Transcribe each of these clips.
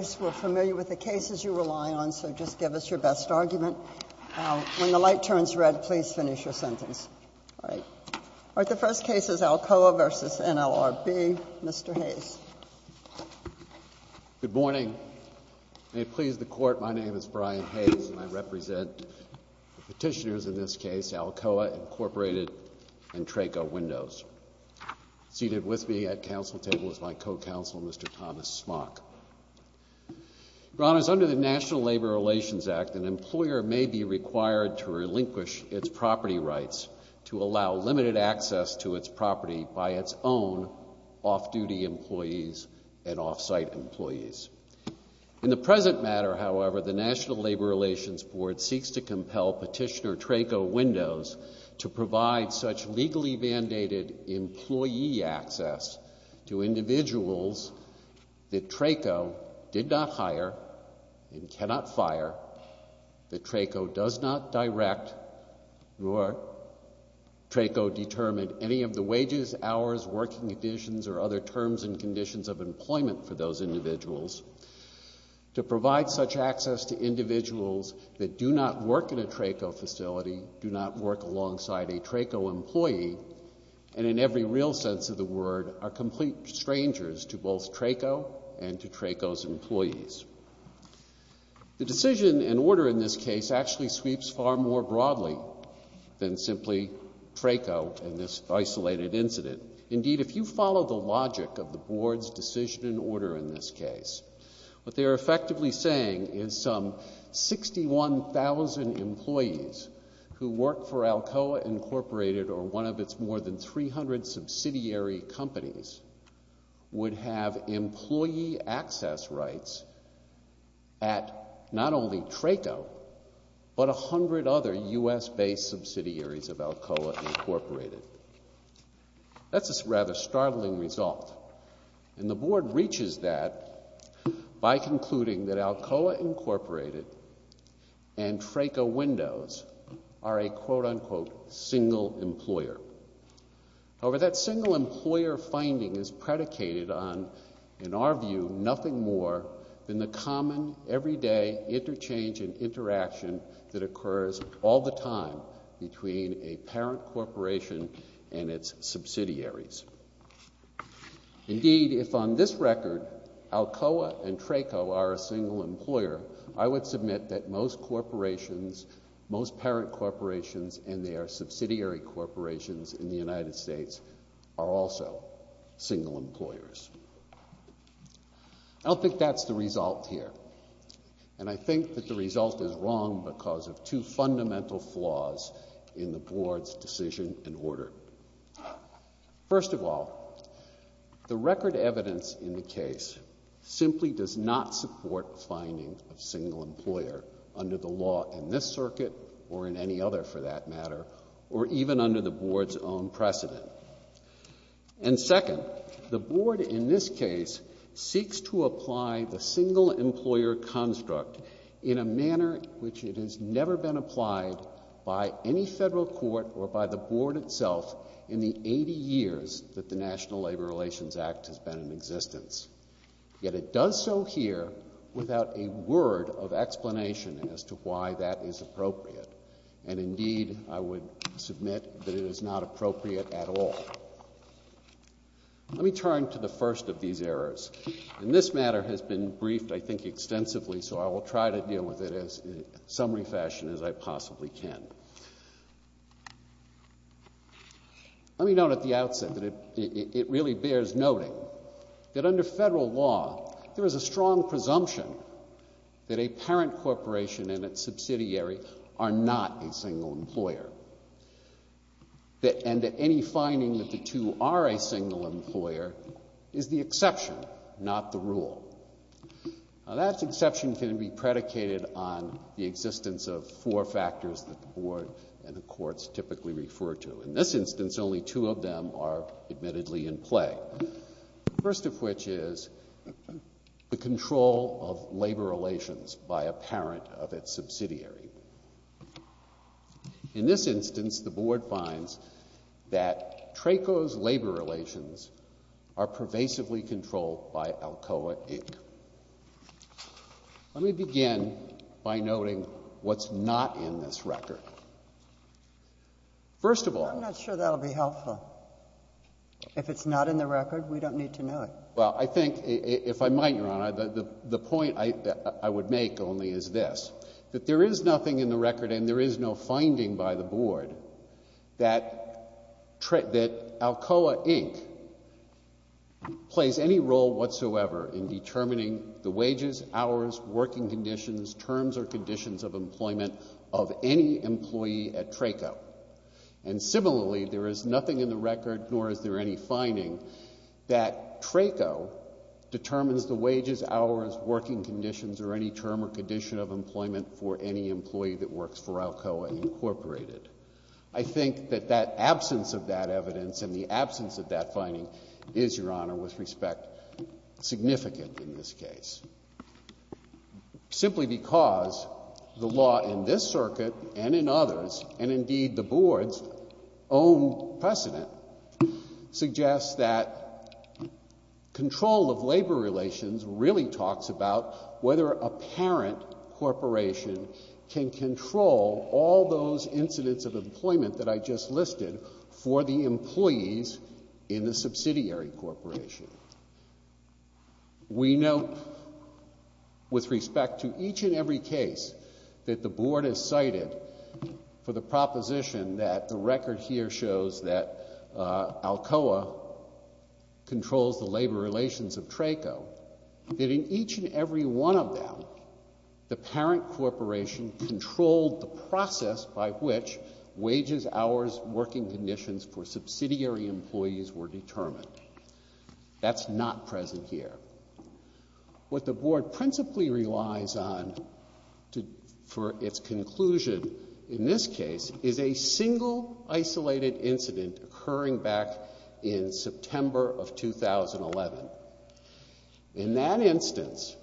Mr. Hayes, we're familiar with the cases you rely on, so just give us your best argument. When the light turns red, please finish your sentence. All right. The first case is Alcoa v. NLRB. Mr. Hayes. Good morning. May it please the Court, my name is Brian Hayes, and I represent the petitioners in this case, Alcoa, Incorporated, and Traco Windows. Seated with me at council table is my co-counsel, Mr. Thomas Smock. Your Honors, under the National Labor Relations Act, an employer may be required to relinquish its property rights to allow limited access to its property by its own off-duty employees and off-site employees. In the present matter, however, the National Labor Relations Board seeks to compel petitioner Traco Windows to provide such legally-mandated employee access to individuals that Traco did not hire and cannot fire, that Traco does not direct, nor Traco determined any of the wages, hours, working conditions, or other terms and conditions of employment for those individuals, to provide such access to individuals that do not work in a Traco facility, do not work alongside a Traco employee, and in every real sense of the word, are complete strangers to both Traco and to Traco's employees. The decision and order in this case actually sweeps far more broadly than simply Traco and this isolated incident. Indeed, if you follow the logic of the Board's decision and order in this case, what they are effectively saying is some 61,000 employees who work for Alcoa, Incorporated, or one of its more than 300 subsidiary companies would have employee access rights at not only Traco, but a hundred other U.S.-based subsidiaries of Alcoa, Incorporated. That's a rather startling result, and the Board reaches that by concluding that Alcoa, Incorporated and Traco Windows are a quote-unquote single employer. However, that single employer finding is predicated on, in our view, nothing more than the common everyday interchange and interaction that occurs all the time between a parent corporation and its subsidiaries. Indeed, if on this record Alcoa and Traco are a single employer, I would submit that most corporations, most parent corporations and their subsidiary corporations in the United States are also single employers. I don't think that's the result here, and I think that the result is wrong because of two fundamental flaws in the Board's decision and order. First of all, the record evidence in the case simply does not support a finding of single employer under the law in this circuit or in any other, for that matter, or even under the Board's own precedent. And second, the Board in this case seeks to apply the single employer construct in a manner which it has never been applied by any federal court or by the Board itself in the 80 years that the National Labor Relations Act has been in existence. Yet it does so here without a word of explanation as to why that is appropriate. And indeed, I would submit that it is not appropriate at all. Let me turn to the first of these errors. And this matter has been briefed, I think, extensively, so I will try to deal with it in as summary fashion as I possibly can. Let me note at the outset that it really bears noting that under federal law there is a strong presumption that a parent corporation and its subsidiary are not a single employer and that any finding that the two are a single employer is the exception, not the rule. Now, that exception can be predicated on the existence of four factors that the Board and the courts typically refer to. The first of which is the control of labor relations by a parent of its subsidiary. In this instance, the Board finds that TRACO's labor relations are pervasively controlled by ALCOA, Inc. Let me begin by noting what's not in this record. First of all... I'm not sure that will be helpful. If it's not in the record, we don't need to know it. Well, I think, if I might, Your Honor, the point I would make only is this, that there is nothing in the record and there is no finding by the Board that ALCOA, Inc. plays any role whatsoever in determining the wages, hours, working conditions, terms or conditions of employment of any employee at TRACO. And similarly, there is nothing in the record, nor is there any finding, that TRACO determines the wages, hours, working conditions or any term or condition of employment for any employee that works for ALCOA, Inc. I think that that absence of that evidence and the absence of that finding is, Your Honor, with respect, significant in this case. Simply because the law in this circuit and in others, and indeed the Board's own precedent, suggests that control of labor relations really talks about whether a parent corporation can control all those incidents of employment that I just listed for the employees in the subsidiary corporation. We note, with respect to each and every case that the Board has cited for the proposition that the record here shows that ALCOA controls the labor relations of TRACO, that in each and every one of them, the parent corporation controlled the process by which wages, hours, working conditions for subsidiary employees were determined. That's not present here. What the Board principally relies on for its conclusion in this case is a single isolated incident occurring back in September of 2011. In that instance,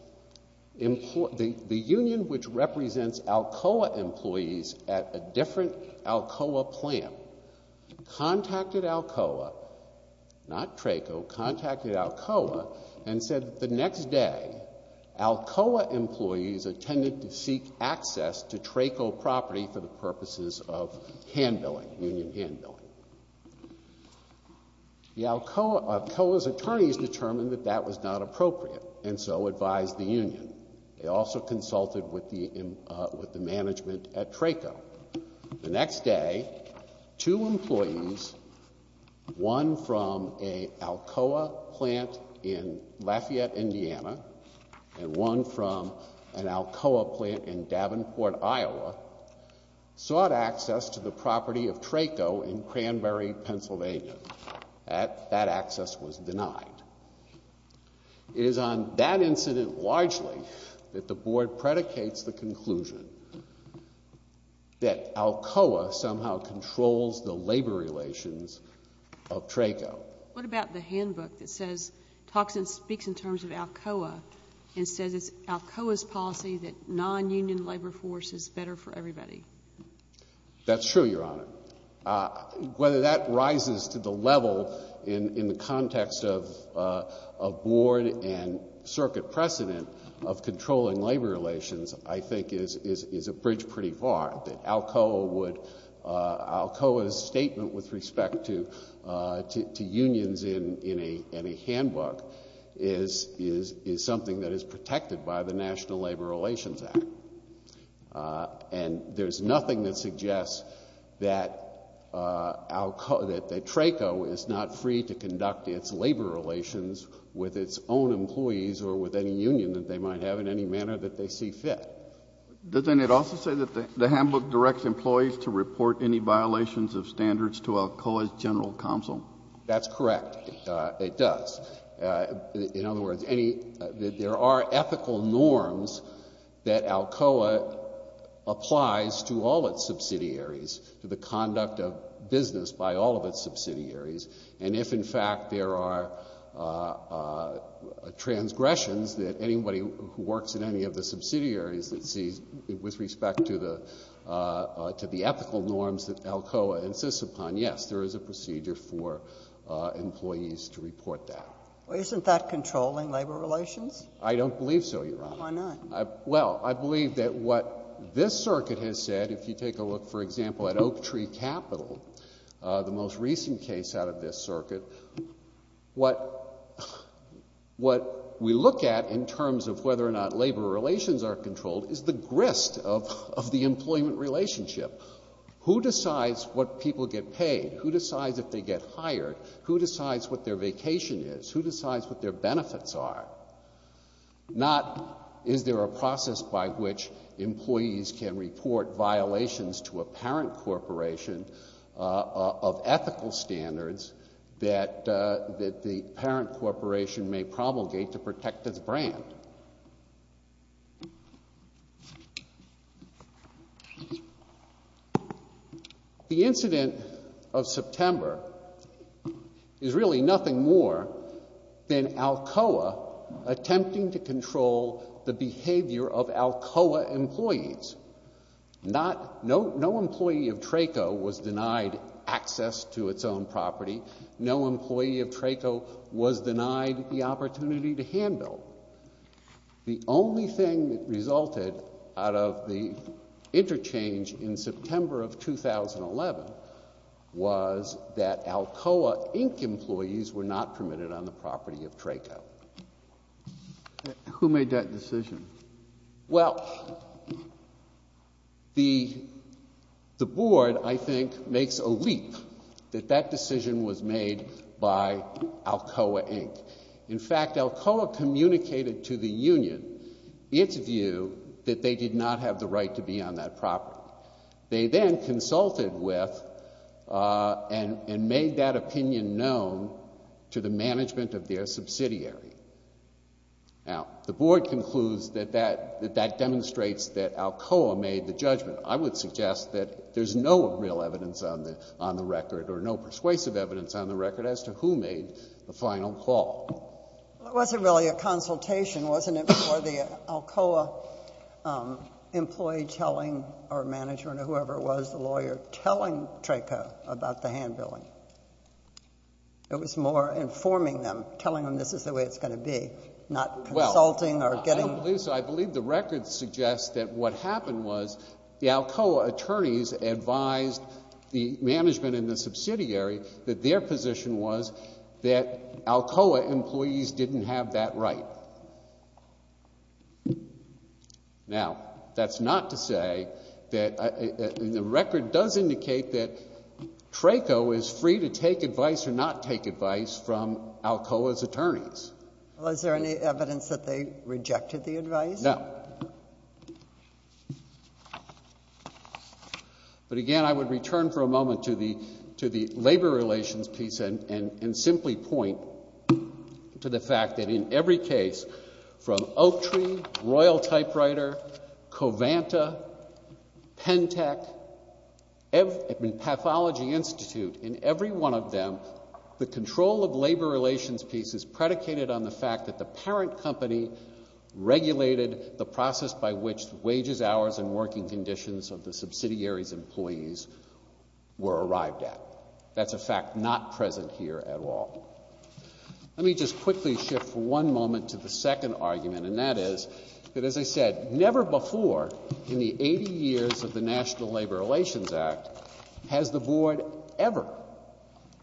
the union which represents ALCOA employees at a different ALCOA plan contacted ALCOA, not TRACO, contacted ALCOA and said that the next day, ALCOA employees attended to seek access to TRACO property for the purposes of handbilling, union handbilling. The ALCOA's attorneys determined that that was not appropriate and so advised the union. They also consulted with the management at TRACO. The next day, two employees, one from an ALCOA plant in Lafayette, Indiana, and one from an ALCOA plant in Davenport, Iowa, sought access to the property of TRACO in Cranberry, Pennsylvania. That access was denied. It is on that incident largely that the Board predicates the conclusion that ALCOA somehow controls the labor relations of TRACO. What about the handbook that says, talks and speaks in terms of ALCOA and says it's ALCOA's policy that non-union labor force is better for everybody? That's true, Your Honor. Whether that rises to the level in the context of Board and Circuit precedent of controlling labor relations I think is a bridge pretty far. That ALCOA would, ALCOA's statement with respect to unions in a handbook is something that is protected by the National Labor Relations Act. And there's nothing that suggests that ALCOA, that TRACO is not free to conduct its labor relations with its own employees or with any union that they might have in any manner that they see fit. Doesn't it also say that the handbook directs employees to report any violations of standards to ALCOA's general counsel? That's correct. It does. In other words, any, there are ethical norms that ALCOA applies to all its subsidiaries, to the conduct of business by all of its subsidiaries. And if, in fact, there are transgressions that anybody who works in any of the subsidiaries that sees, with respect to the ethical norms that ALCOA insists upon, yes, there is a procedure for employees to report that. Well, isn't that controlling labor relations? I don't believe so, Your Honor. Why not? Well, I believe that what this circuit has said, if you take a look, for example, at Oak Tree Capital, the most recent case out of this circuit, what we look at in terms of whether or not labor relations are controlled is the grist of the employment relationship. Who decides what people get paid? Who decides if they get hired? Who decides what their vacation is? Who decides what their benefits are? Not is there a process by which employees can report violations to a parent corporation of ethical standards that the parent corporation may promulgate to protect its brand. The incident of September is really nothing more than ALCOA attempting to control the behavior of ALCOA employees. No employee of TRACO was denied access to its own property. No employee of TRACO was denied the opportunity to handbill. The only thing that resulted out of the interchange in September of 2011 was that ALCOA, Inc. employees were not permitted on the property of TRACO. Who made that decision? Well, the Board, I think, makes a leap that that decision was made by ALCOA, Inc. In fact, ALCOA communicated to the union its view that they did not have the right to be on that property. They then consulted with and made that opinion known to the management of their subsidiary. Now, the Board concludes that that demonstrates that ALCOA made the judgment. I would suggest that there's no real evidence on the record or no persuasive evidence on the record as to who made the final call. Well, it wasn't really a consultation, wasn't it, before the ALCOA employee telling our management or whoever it was, the lawyer, telling TRACO about the handbilling? It was more informing them, telling them this is the way it's going to be, not consulting or getting... Well, I don't believe so. I believe the record suggests that what happened was the ALCOA attorneys advised the management and the subsidiary that their position was that ALCOA employees didn't have that right. Now, that's not to say that... And the record does indicate that TRACO is free to take advice or not take advice from ALCOA's attorneys. Well, is there any evidence that they rejected the advice? No. But again, I would return for a moment to the labor relations piece and simply point to the fact that in every case from Oak Tree, Royal Typewriter, Covanta, Pentec, Pathology Institute, in every one of them, the control of labor relations piece is predicated on the fact that the parent company regulated the process by which the wages, hours, and working conditions of the subsidiary's employees were arrived at. That's a fact not present here at all. Let me just quickly shift for one moment to the second argument, and that is that, as I said, never before in the 80 years of the National Labor Relations Act has the board ever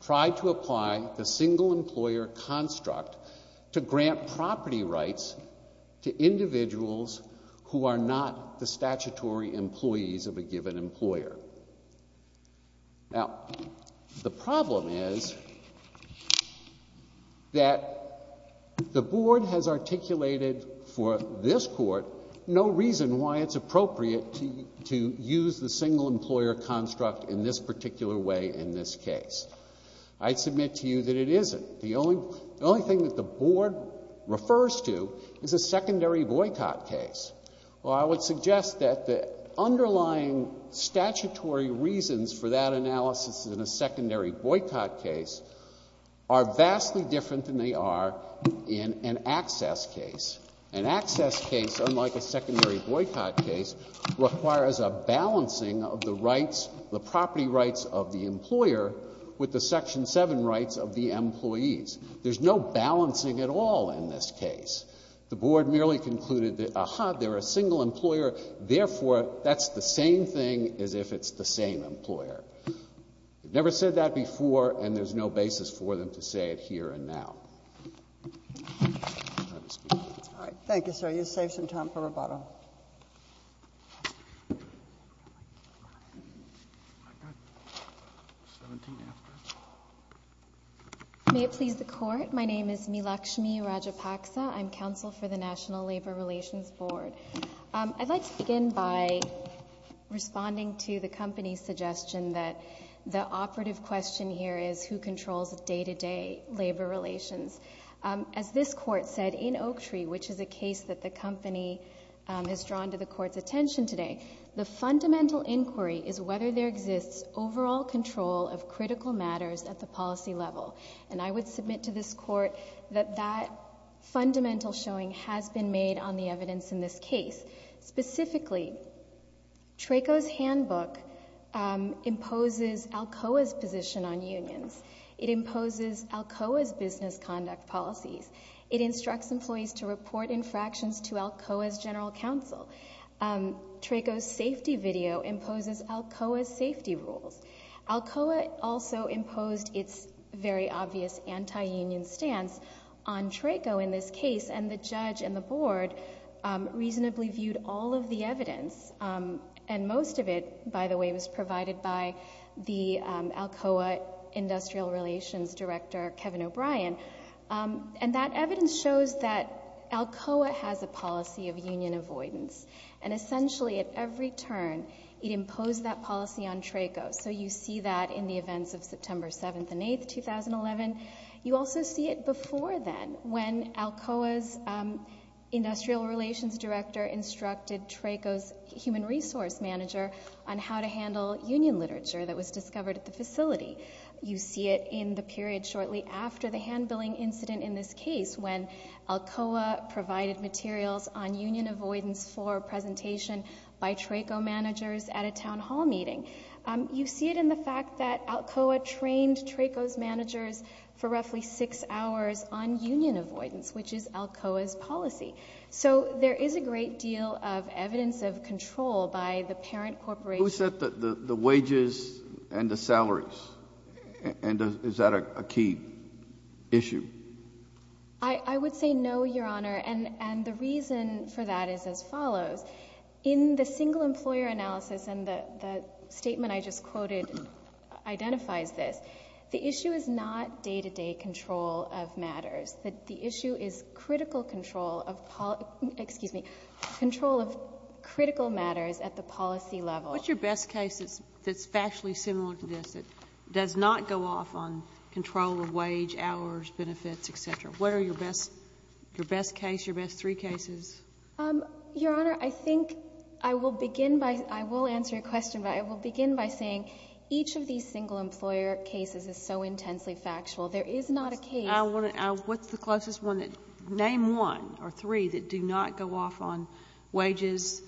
tried to apply the single employer construct to grant property rights to individuals who are not the statutory employees of a given employer. Now, the problem is that the board has articulated for this Court no reason why it's appropriate to use the single employer construct in this particular way in this case. I submit to you that it the board refers to is a secondary boycott case. Well, I would suggest that the underlying statutory reasons for that analysis in a secondary boycott case are vastly different than they are in an access case. An access case, unlike a secondary boycott case, requires a balancing of the rights, the property rights of the employer with the Section 7 rights of the employer. Now, the board is not balancing at all in this case. The board merely concluded that, aha, they're a single employer, therefore, that's the same thing as if it's the same employer. They've never said that before, and there's no basis for them to say it here and now. Thank you, sir. You saved some time for rebuttal. May it please the Court. My name is Milakshmi Rajapaksa. I'm counsel for the National Labor Relations Board. I'd like to begin by responding to the company's suggestion that the operative question here is who controls day-to-day labor relations. As this Court said, in Oaktree, which is a case that the company has drawn to the Court's attention today, the fundamental inquiry is whether there exists overall control of critical matters at the policy level. And I would submit to this Court that that fundamental showing has been made on the evidence in this case. Specifically, TRACO's handbook imposes Alcoa's position on unions. It imposes Alcoa's business conduct policies. It instructs employees to report infractions to Alcoa's general counsel. TRACO's safety video imposes Alcoa's safety rules. Alcoa also imposed its very obvious anti-union stance on TRACO in this case, and the judge and the Board reasonably viewed all of the evidence, and most of it, by the way, was provided by the Alcoa Industrial Relations Director, Kevin O'Brien. And that evidence shows that Alcoa has a policy of union avoidance. And essentially, at every turn, it imposed that policy on TRACO. So you see that in the events of September 7th and 8th, 2011. You also see it before then, when Alcoa's Industrial Relations Director instructed TRACO's human resource manager on how to handle union literature that was discovered at the facility. You see it in the period shortly after the hand-billing incident in this case, when Alcoa provided materials on union avoidance for presentation by TRACO managers at a town hall meeting. You see it in the fact that Alcoa trained TRACO's managers for roughly 6 hours on union avoidance, which is Alcoa's policy. So there is a great deal of evidence of control by the parent corporation. Who set the wages and the salaries? And is that a key issue? I would say no, Your Honor. And the reason for that is as follows. In the single employer analysis, and the statement I just quoted identifies this. The issue is not day-to-day control of matters. The issue is critical control of policy — excuse me — control of critical matters at the policy level. What's your best case that's factually similar to this, that does not go off on control of wage, hours, benefits, et cetera? What are your best case, your best three cases? Your Honor, I think I will begin by — I will answer your question, but I will begin by saying each of these single employer cases is so intensely factual. There is not a case — What's the closest one? Name one or three that do not go off on wages,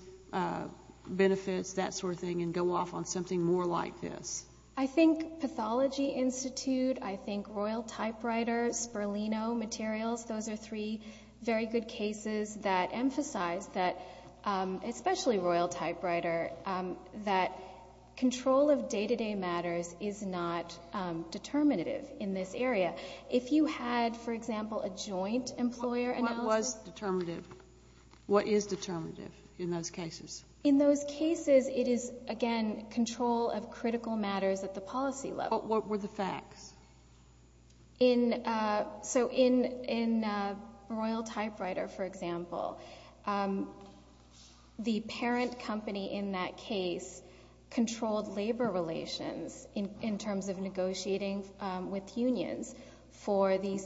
benefits, that sort of thing, and go off on something more like this. I think Pathology Institute, I think Royal Typewriter, Sperlino Materials, those are three very good cases that emphasize that, especially Royal Typewriter, that control of day-to-day matters is not determinative in this area. If you had, for example, a joint employer analysis — What was determinative? What is determinative in those cases? In those cases, it is, again, control of critical matters at the policy level. What were the facts? So in Royal Typewriter, for example, the parent company in that case controlled labor relations in terms of negotiating with unions for the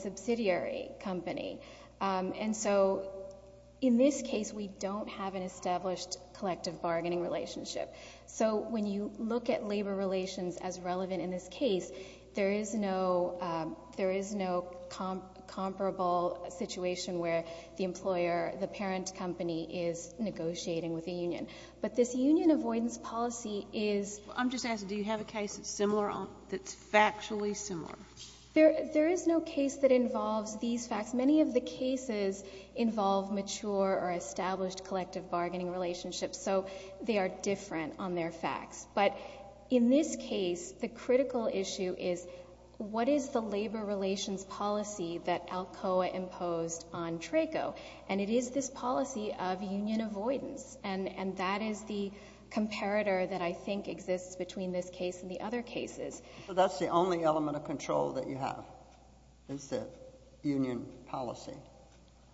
And so in this case, we don't have an established collective bargaining relationship. So when you look at labor relations as relevant in this case, there is no comparable situation where the employer, the parent company, is negotiating with the union. But this union avoidance policy is — I'm just asking, do you have a case that's similar on — that's factually similar? There is no case that involves these facts. Many of the cases involve mature or established collective bargaining relationships, so they are different on their facts. But in this case, the critical issue is, what is the labor relations policy that ALCOA imposed on TRACO? And it is this policy of union avoidance, and that is the comparator that I think exists between this case and the other cases. So that's the only element of control that you have, is the union policy,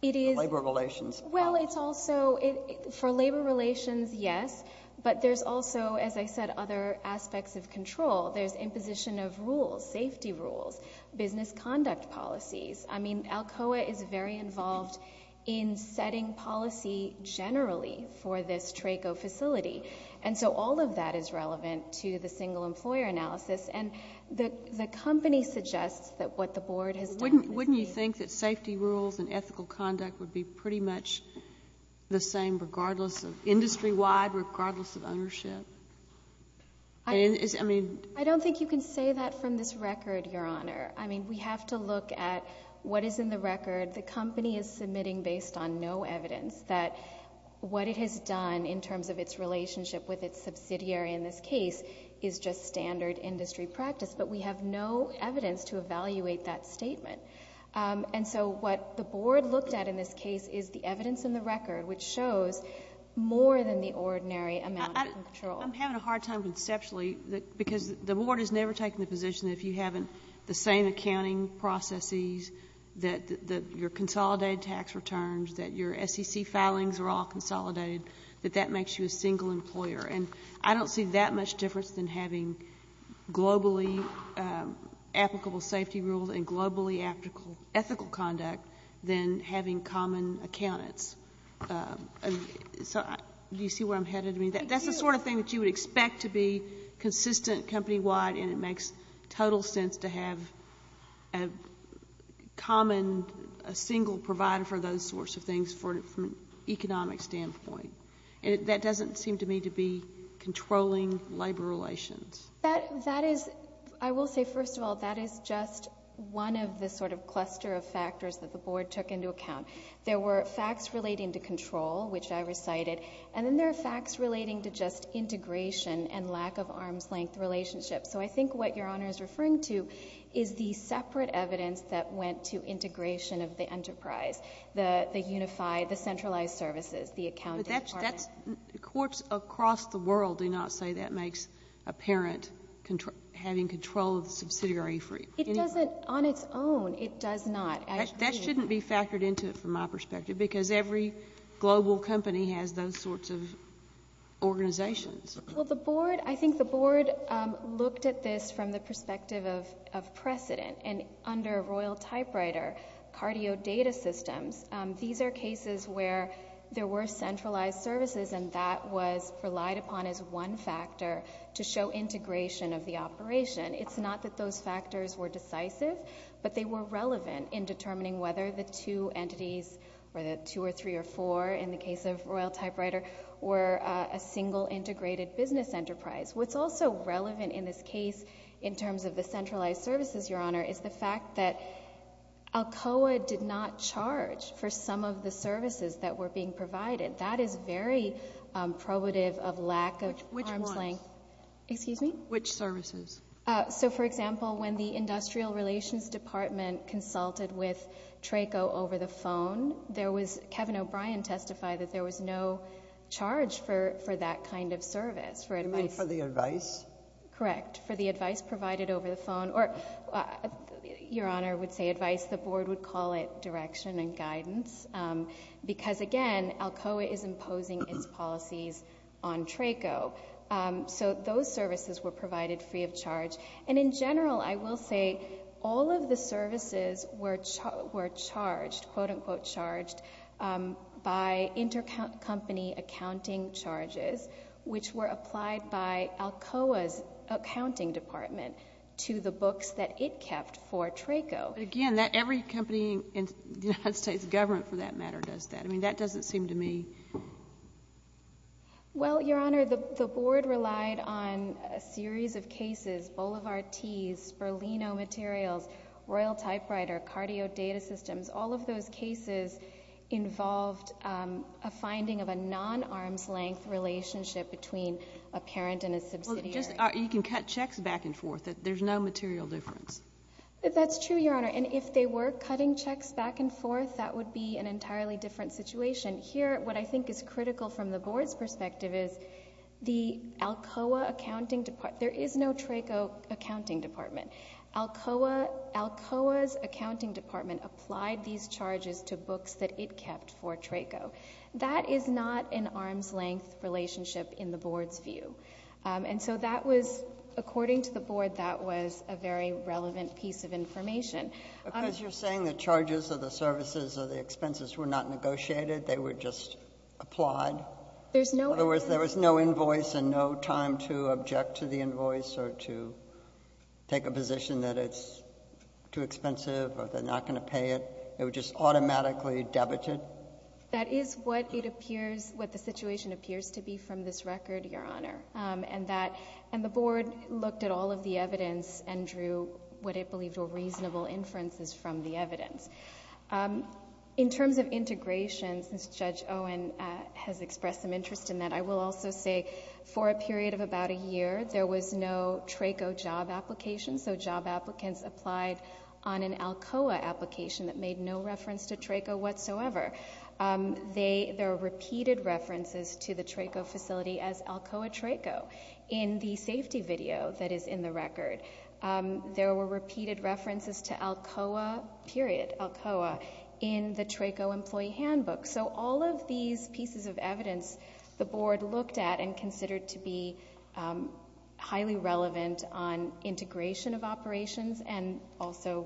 the labor relations policy? Well, it's also — for labor relations, yes, but there's also, as I said, other aspects of control. There's imposition of rules, safety rules, business conduct policies. I mean, ALCOA is very involved in setting policy generally for this TRACO facility. And so all of that is relevant to the single employer analysis. And the company suggests that what the Board has done — Wouldn't you think that safety rules and ethical conduct would be pretty much the same regardless of — industry-wide, regardless of ownership? I mean — I don't think you can say that from this record, Your Honor. I mean, we have to look at what is in the record. The company is submitting based on no evidence that what it has done in terms of its relationship with its subsidiary in this case is just standard industry practice. But we have no evidence to evaluate that statement. And so what the Board looked at in this case is the evidence in the record, which shows more than the ordinary amount of control. I'm having a hard time conceptually, because the Board has never taken the position that if you haven't the same accounting processes, that your consolidated tax returns, that your SEC filings are all consolidated, that that makes you a single employer. And I don't see that much difference than having globally applicable safety rules and globally ethical conduct than having common accountants. So do you see where I'm headed? I mean, that's the sort of thing that you would expect to be consistent company-wide, and it makes total sense to have a common — a single provider for those sorts of things from an economic standpoint. And that doesn't seem to me to be controlling labor relations. I will say, first of all, that is just one of the sort of cluster of factors that the Board took into account. There were facts relating to control, which I recited, and then there are facts relating to just integration and lack of arm's-length relationships. So I think what Your Honor is referring to is the separate evidence that went to integration of the unified, the centralized services, the accounting department. Courts across the world do not say that makes apparent having control of the subsidiary free. It doesn't on its own. It does not. That shouldn't be factored into it from my perspective, because every global company has those sorts of organizations. Well, the Board — I think the Board looked at this from the perspective of precedent, and under a royal typewriter, cardio data systems. These are cases where there were centralized services, and that was relied upon as one factor to show integration of the operation. It's not that those factors were decisive, but they were relevant in determining whether the two entities, or the two or three or four in the case of royal typewriter, were a single integrated business enterprise. What's also relevant in this case in terms of the centralized services, Your Honor, is the fact that ALCOA did not charge for some of the services that were being provided. That is very probative of lack of arm's length. Which ones? Excuse me? Which services? So, for example, when the industrial relations department consulted with TRACO over the phone, there was — Kevin O'Brien testified that there was no charge for that kind of service. You mean for the advice? Correct. For the advice provided over the phone. Or, Your Honor would say advice. The board would call it direction and guidance. Because, again, ALCOA is imposing its policies on TRACO. So those services were provided free of charge. And in general, I will say, all of the services were charged, quote-unquote charged, by intercompany accounting charges, which were applied by the accounting department to the books that it kept for TRACO. But, again, every company in the United States government, for that matter, does that. I mean, that doesn't seem to me — Well, Your Honor, the board relied on a series of cases — Boulevard Tees, Sperlino Materials, Royal Typewriter, Cardio Data Systems — all of those cases involved a finding of a non-arm's length relationship between a parent and a subsidiary. You can cut checks back and forth. There's no material difference. That's true, Your Honor. And if they were cutting checks back and forth, that would be an entirely different situation. Here, what I think is critical from the board's perspective is the ALCOA accounting department — there is no TRACO accounting department. ALCOA's accounting department applied these charges to books that it kept for TRACO. That is not an arm's length relationship in the board's view. And so that was — according to the board, that was a very relevant piece of information. Because you're saying the charges or the services or the expenses were not negotiated, they were just applied? In other words, there was no invoice and no time to object to the invoice or to take a position that it's too expensive or they're not going to pay it? It was just automatically debited? That is what it appears — what the situation appears to be from this record, Your Honor. And the board looked at all of the evidence and drew what it believed were reasonable inferences from the evidence. In terms of integration, since Judge Owen has expressed some interest in that, I will also say for a period of about a year, there was no TRACO job application. So job applicants applied on an ALCOA application that made no reference to TRACO whatsoever. There are repeated references to the TRACO facility as ALCOA TRACO in the safety video that is in the record. There were repeated references to ALCOA, period, ALCOA, in the TRACO employee handbook. So all of these pieces of evidence the board looked at and considered to be highly relevant on integration of operations and also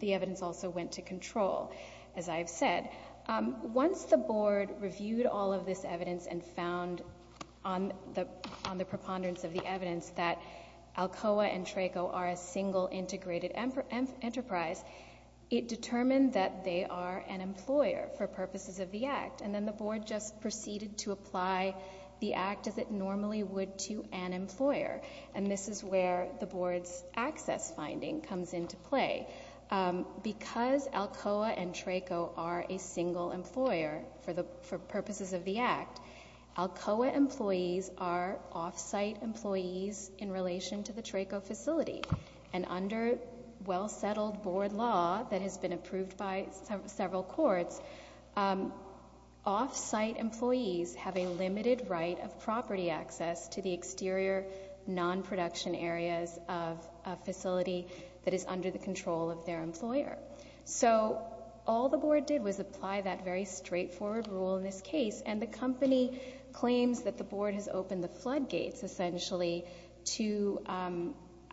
the evidence also went to control, as I have said. Once the board reviewed all of this evidence and found on the preponderance of the evidence that ALCOA and TRACO are a single integrated enterprise, it determined that they are an employer for purposes of the Act. And then the board just proceeded to apply the Act as it normally would to an employer. And this is where the board's access finding comes into play. Because ALCOA and TRACO are a single employer for purposes of the Act, ALCOA employees are off-site employees in relation to the TRACO facility. And under well-settled board law that has been approved by several courts, off-site employees have a limited right of property access to the exterior non-production areas of a facility that is under the control of their employer. So all the board did was apply that very straightforward rule in this case, and the company claims that the board has opened the floodgates, essentially, to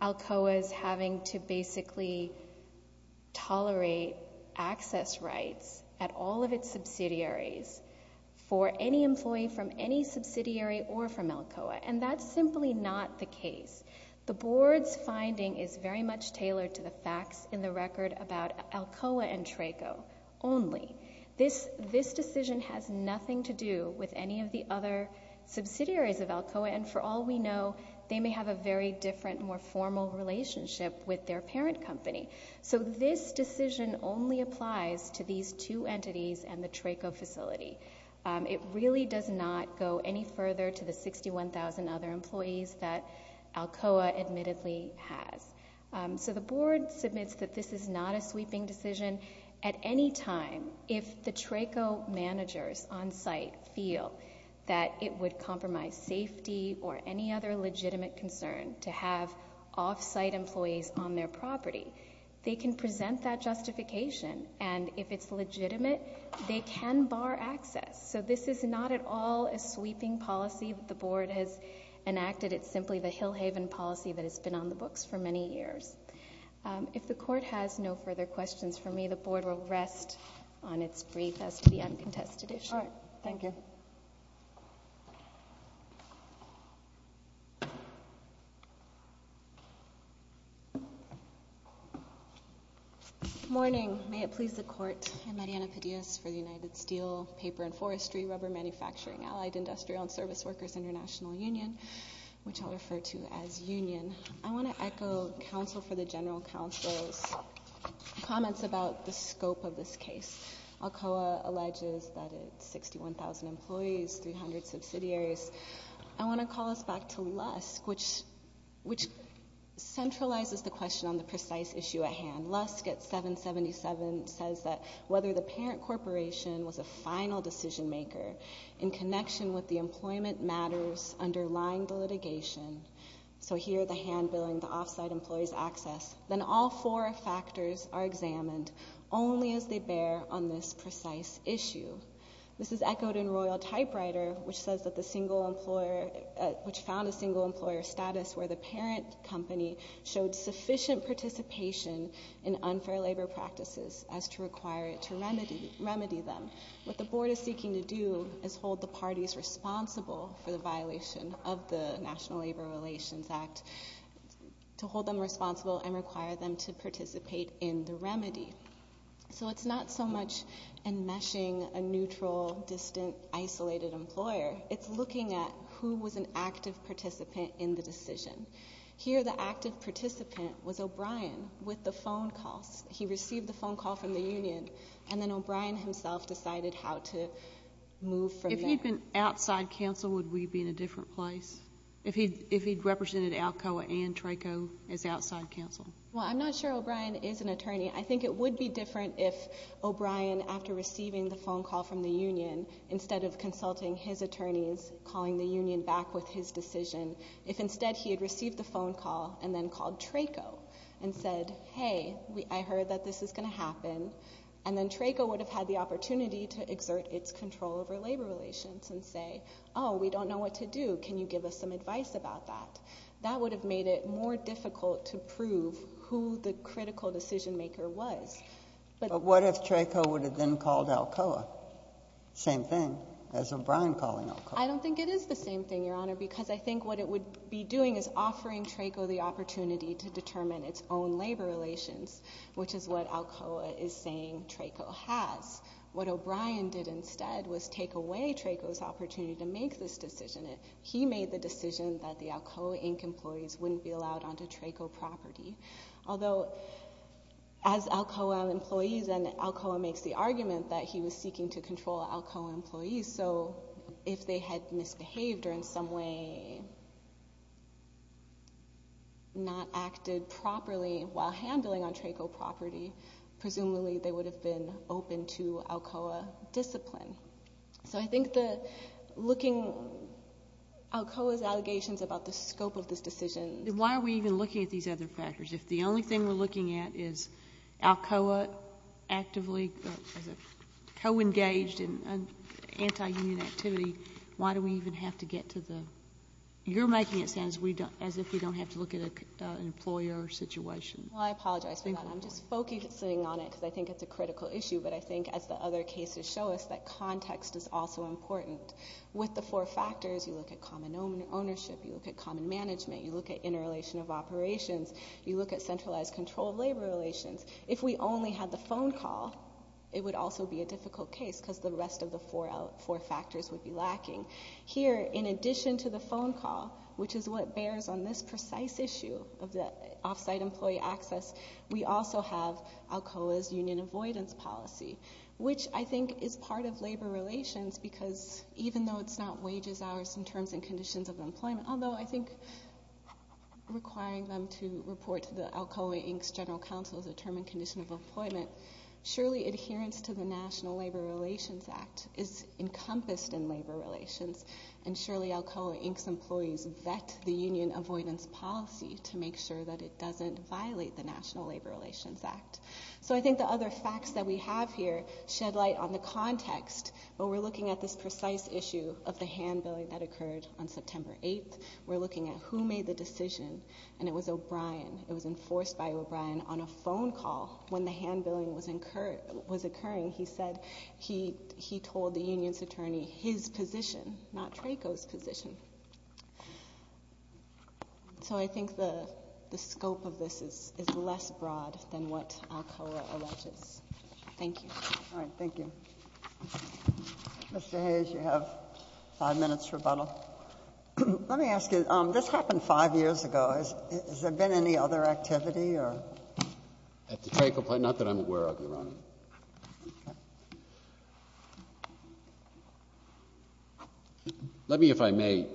ALCOA's having to basically tolerate access rights at all of its subsidiaries for any employee from any subsidiary or from the case. The board's finding is very much tailored to the facts in the record about ALCOA and TRACO only. This decision has nothing to do with any of the other subsidiaries of ALCOA, and for all we know, they may have a very different more formal relationship with their parent company. So this decision only applies to these two entities and the TRACO facility. It really does not go any further to the extent that ALCOA admittedly has. So the board submits that this is not a sweeping decision. At any time, if the TRACO managers on-site feel that it would compromise safety or any other legitimate concern to have off-site employees on their property, they can present that justification, and if it's legitimate, they can bar access. So this is not at all a sweeping policy that the board has enacted. It's simply the Hillhaven policy that has been on the books for many years. If the court has no further questions for me, the board will rest on its brief as to the undetested issue. All right. Thank you. Good morning. May it please the court, I'm Mariana Padillas for the United Steel, Paper and Forestry, Rubber Manufacturing, Allied Industrial and Service Workers International Union, which I'll refer to as Union. I want to echo counsel for the general counsel's comments about the scope of this case. ALCOA alleges that it's 61,000 employees, 300 subsidiaries. I want to call us back to Lusk, which centralizes the question on the precise issue at hand. Lusk at 777 says that whether the parent corporation was a final decision maker in connection with the employment matters underlying the litigation so here the hand-billing, the off-site employee's access, then all four factors are examined only as they bear on this precise issue. This is echoed in Royal Typewriter, which says that the single employer, which found a single employer status where the parent company showed sufficient participation in unfair labor practices as to require it to remedy them. What the board is seeking to do is hold the parties responsible for the violation of the National Labor Relations Act, to hold them responsible and require them to participate in the remedy. So it's not so much enmeshing a neutral, distant, isolated employer. It's looking at who was an active participant in the decision. Here the active participant was O'Brien with the phone calls. He received the phone call from the union, and then O'Brien himself decided how to move from there. If he'd been outside counsel, would we be in a different place? If he'd represented Alcoa and Traco as outside counsel? Well, I'm not sure O'Brien is an attorney. I think it would be different if O'Brien, after receiving the phone call from the union, instead of consulting his attorneys, calling the union back with his decision, if instead he had received the phone call and then called Traco and said, hey, I heard that this is going to happen, and then Traco would have had the opportunity to exert its control over labor relations and say, oh, we don't know what to do. Can you give us some advice about that? That would have made it more difficult to prove who the critical decision maker was. But what if Traco would have then called Alcoa? Same thing as O'Brien calling Alcoa. I don't think it is the same thing, Your Honor, because I think what it would be doing is offering Traco the opportunity to determine its own labor relations, which is what Alcoa is saying Traco has. What O'Brien did instead was take away Traco's opportunity to make this decision. He made the decision that the Alcoa Inc. employees wouldn't be allowed onto Traco property. Although, as Alcoa employees, and Alcoa makes the argument that he was seeking to control Alcoa employees, so if they had misbehaved or in some way not acted properly while handling on Traco property, presumably they would have been open to Alcoa discipline. So I think looking at Alcoa's allegations about the scope of this decision. Why are we even looking at these other factors if the only thing we're looking at is Alcoa actively co-engaged in anti-union activity, why do we even have to get to the, you're making it sound as if we don't have to look at an employer situation. Well, I apologize for that. I'm just focusing on it because I think it's a critical issue, but I think as the other cases show us, that context is also important. With the four factors, you look at common ownership, you look at common management, you look at interrelation of operations, you look at centralized control of labor relations. If we only had the phone call, it would also be a difficult case because the rest of the four factors would be lacking. Here, in addition to the phone call, which is what bears on this precise issue of the off-site employee access, we also have Alcoa's union avoidance policy, which I think is part of labor relations because even though it's not wages hours in terms and conditions of employment, although I think requiring them to report to the Alcoa Inc.'s general counsel is a term and condition of employment, surely adherence to the National Labor Relations Act is encompassed in labor relations and surely Alcoa Inc.'s employees vet the union avoidance policy to make sure that it doesn't violate the National Labor Relations Act. So I think the other facts that we have here shed light on the context, but we're looking at this precise issue of the hand-billing that occurred on September 8th. We're looking at who made the decision and it was O'Brien. It was enforced by O'Brien on a phone call when the hand-billing was occurring. He said he told the union's attorney his position, not Trako's position. So I think the scope of this is less broad than what Alcoa alleges. Thank you. All right. Thank you. Mr. Hayes, you have 5 minutes rebuttal. Let me ask you, this happened 5 years ago. Has there been any other activity at the Trako plant? Not that I'm aware of, Your Honor. Let me, if I may,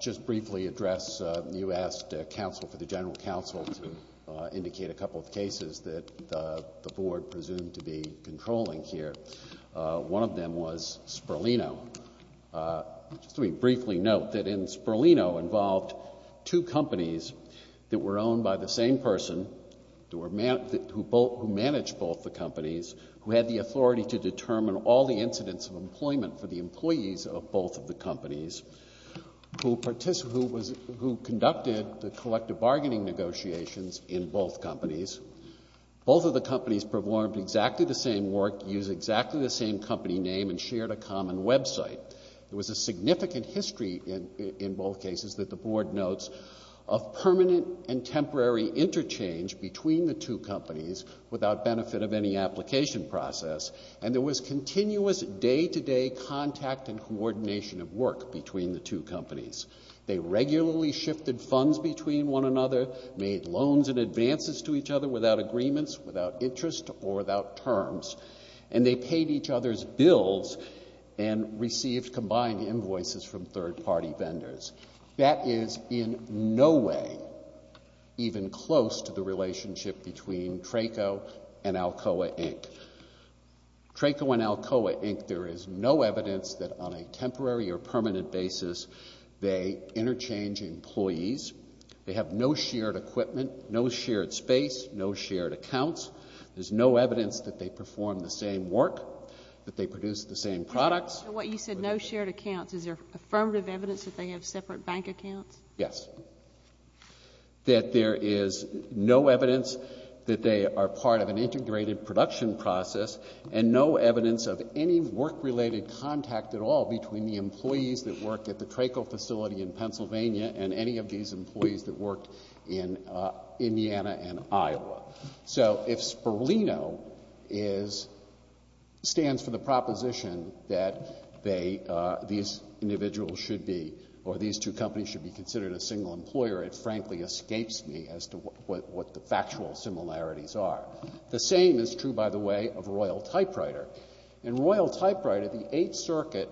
just briefly address you asked counsel for the general counsel to indicate a couple of cases that the board presumed to be controlling here. One of them was Sperlino. Just let me briefly note that in Sperlino involved two companies that were owned by the same person who managed both the companies, who had the authority to determine all the incidents of employment for the employees of both of the companies, who conducted the collective bargaining negotiations in both companies. Both of the companies performed exactly the same work, used exactly the same company name, and shared a common website. There was a significant history in both cases that the board notes of permanent and temporary interchange between the two companies without benefit of any application process, and there was continuous day-to-day contact and coordination of work between the two companies. They regularly shifted funds between one another, made loans and advances to each other without agreements, without interest, or without terms, and they paid each other's bills and received combined invoices from third-party vendors. That is in no way even close to the relationship between Traco and Alcoa, Inc. Traco and Alcoa, Inc., there is no evidence that on a temporary or permanent basis they interchange employees. They have no shared equipment, no shared space, no shared accounts. There's no evidence that they perform the same work, that they produce the same products. So what you said, no shared accounts, is there affirmative evidence that they have separate bank accounts? Yes. That there is no evidence that they are part of an integrated production process and no evidence of any work-related contact at all between the employees that work at the Traco facility in Pennsylvania and any of these employees that work in Indiana and Iowa. So if Sperlino stands for the proposition that these individuals should be, or these two companies should be considered a single employer, it frankly escapes me as to what the factual similarities are. The same is true, by the way, of Royal Typewriter. In Royal Typewriter, the Eighth Circuit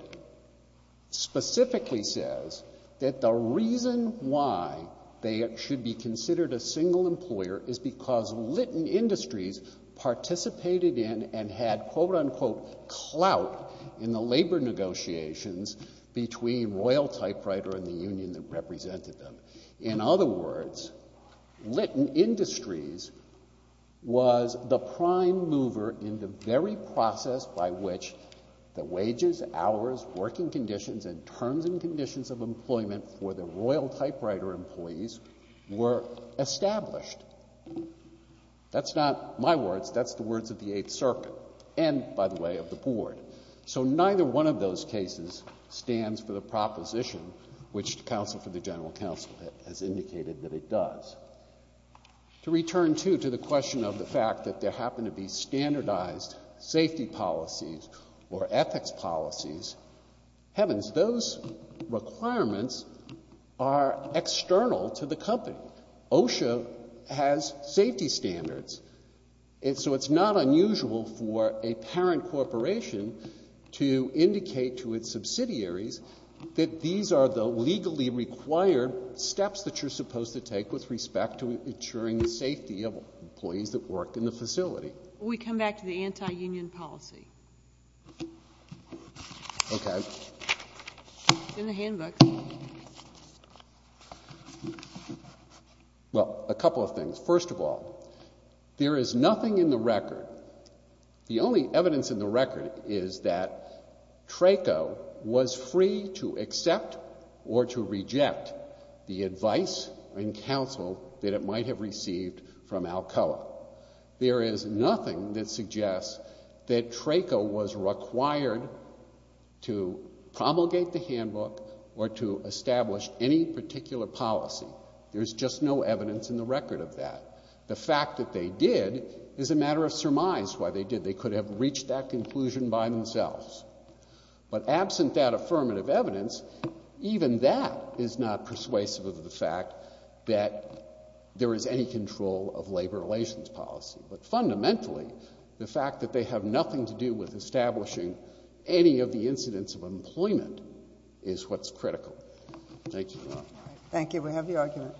specifically says that the reason why they should be considered a single employer is because Litton Industries participated in and had quote-unquote clout in the labor negotiations between Royal Typewriter and the union that represented them. In other words, Litton Industries was the prime mover in the very process by which the wages, hours, working conditions and terms and conditions of employment for the Royal Typewriter employees were established. That's not my words. That's the words of the Eighth Circuit and, by the way, of the Board. So neither one of those cases stands for the proposition which the Counsel for the General Counsel has indicated that it does. To return, too, to the question of the fact that there happen to be standardized safety policies or ethics policies, heavens, those requirements are external to the company. OSHA has safety standards. And so it's not unusual for a parent corporation to indicate to its subsidiaries that these are the legally required steps that you're supposed to take with respect to ensuring the safety of employees that work in the facility. We come back to the anti-union policy. Okay. It's in the handbooks. Well, a couple of things. First of all, there is nothing in the record the only evidence in the record is that TRACO was free to accept or to reject the advice and counsel that it might have received from Alcoa. There is nothing that suggests that TRACO was required to establish any particular policy. There's just no evidence in the record of that. The fact that they did is a matter of surmise why they did. They could have reached that conclusion by themselves. But absent that affirmative evidence, even that is not persuasive of the fact that there is any control of labor relations policy. But fundamentally, the fact that they have nothing to do with establishing any of the incidents of employment is what's critical. Thank you. Thank you. We have the argument.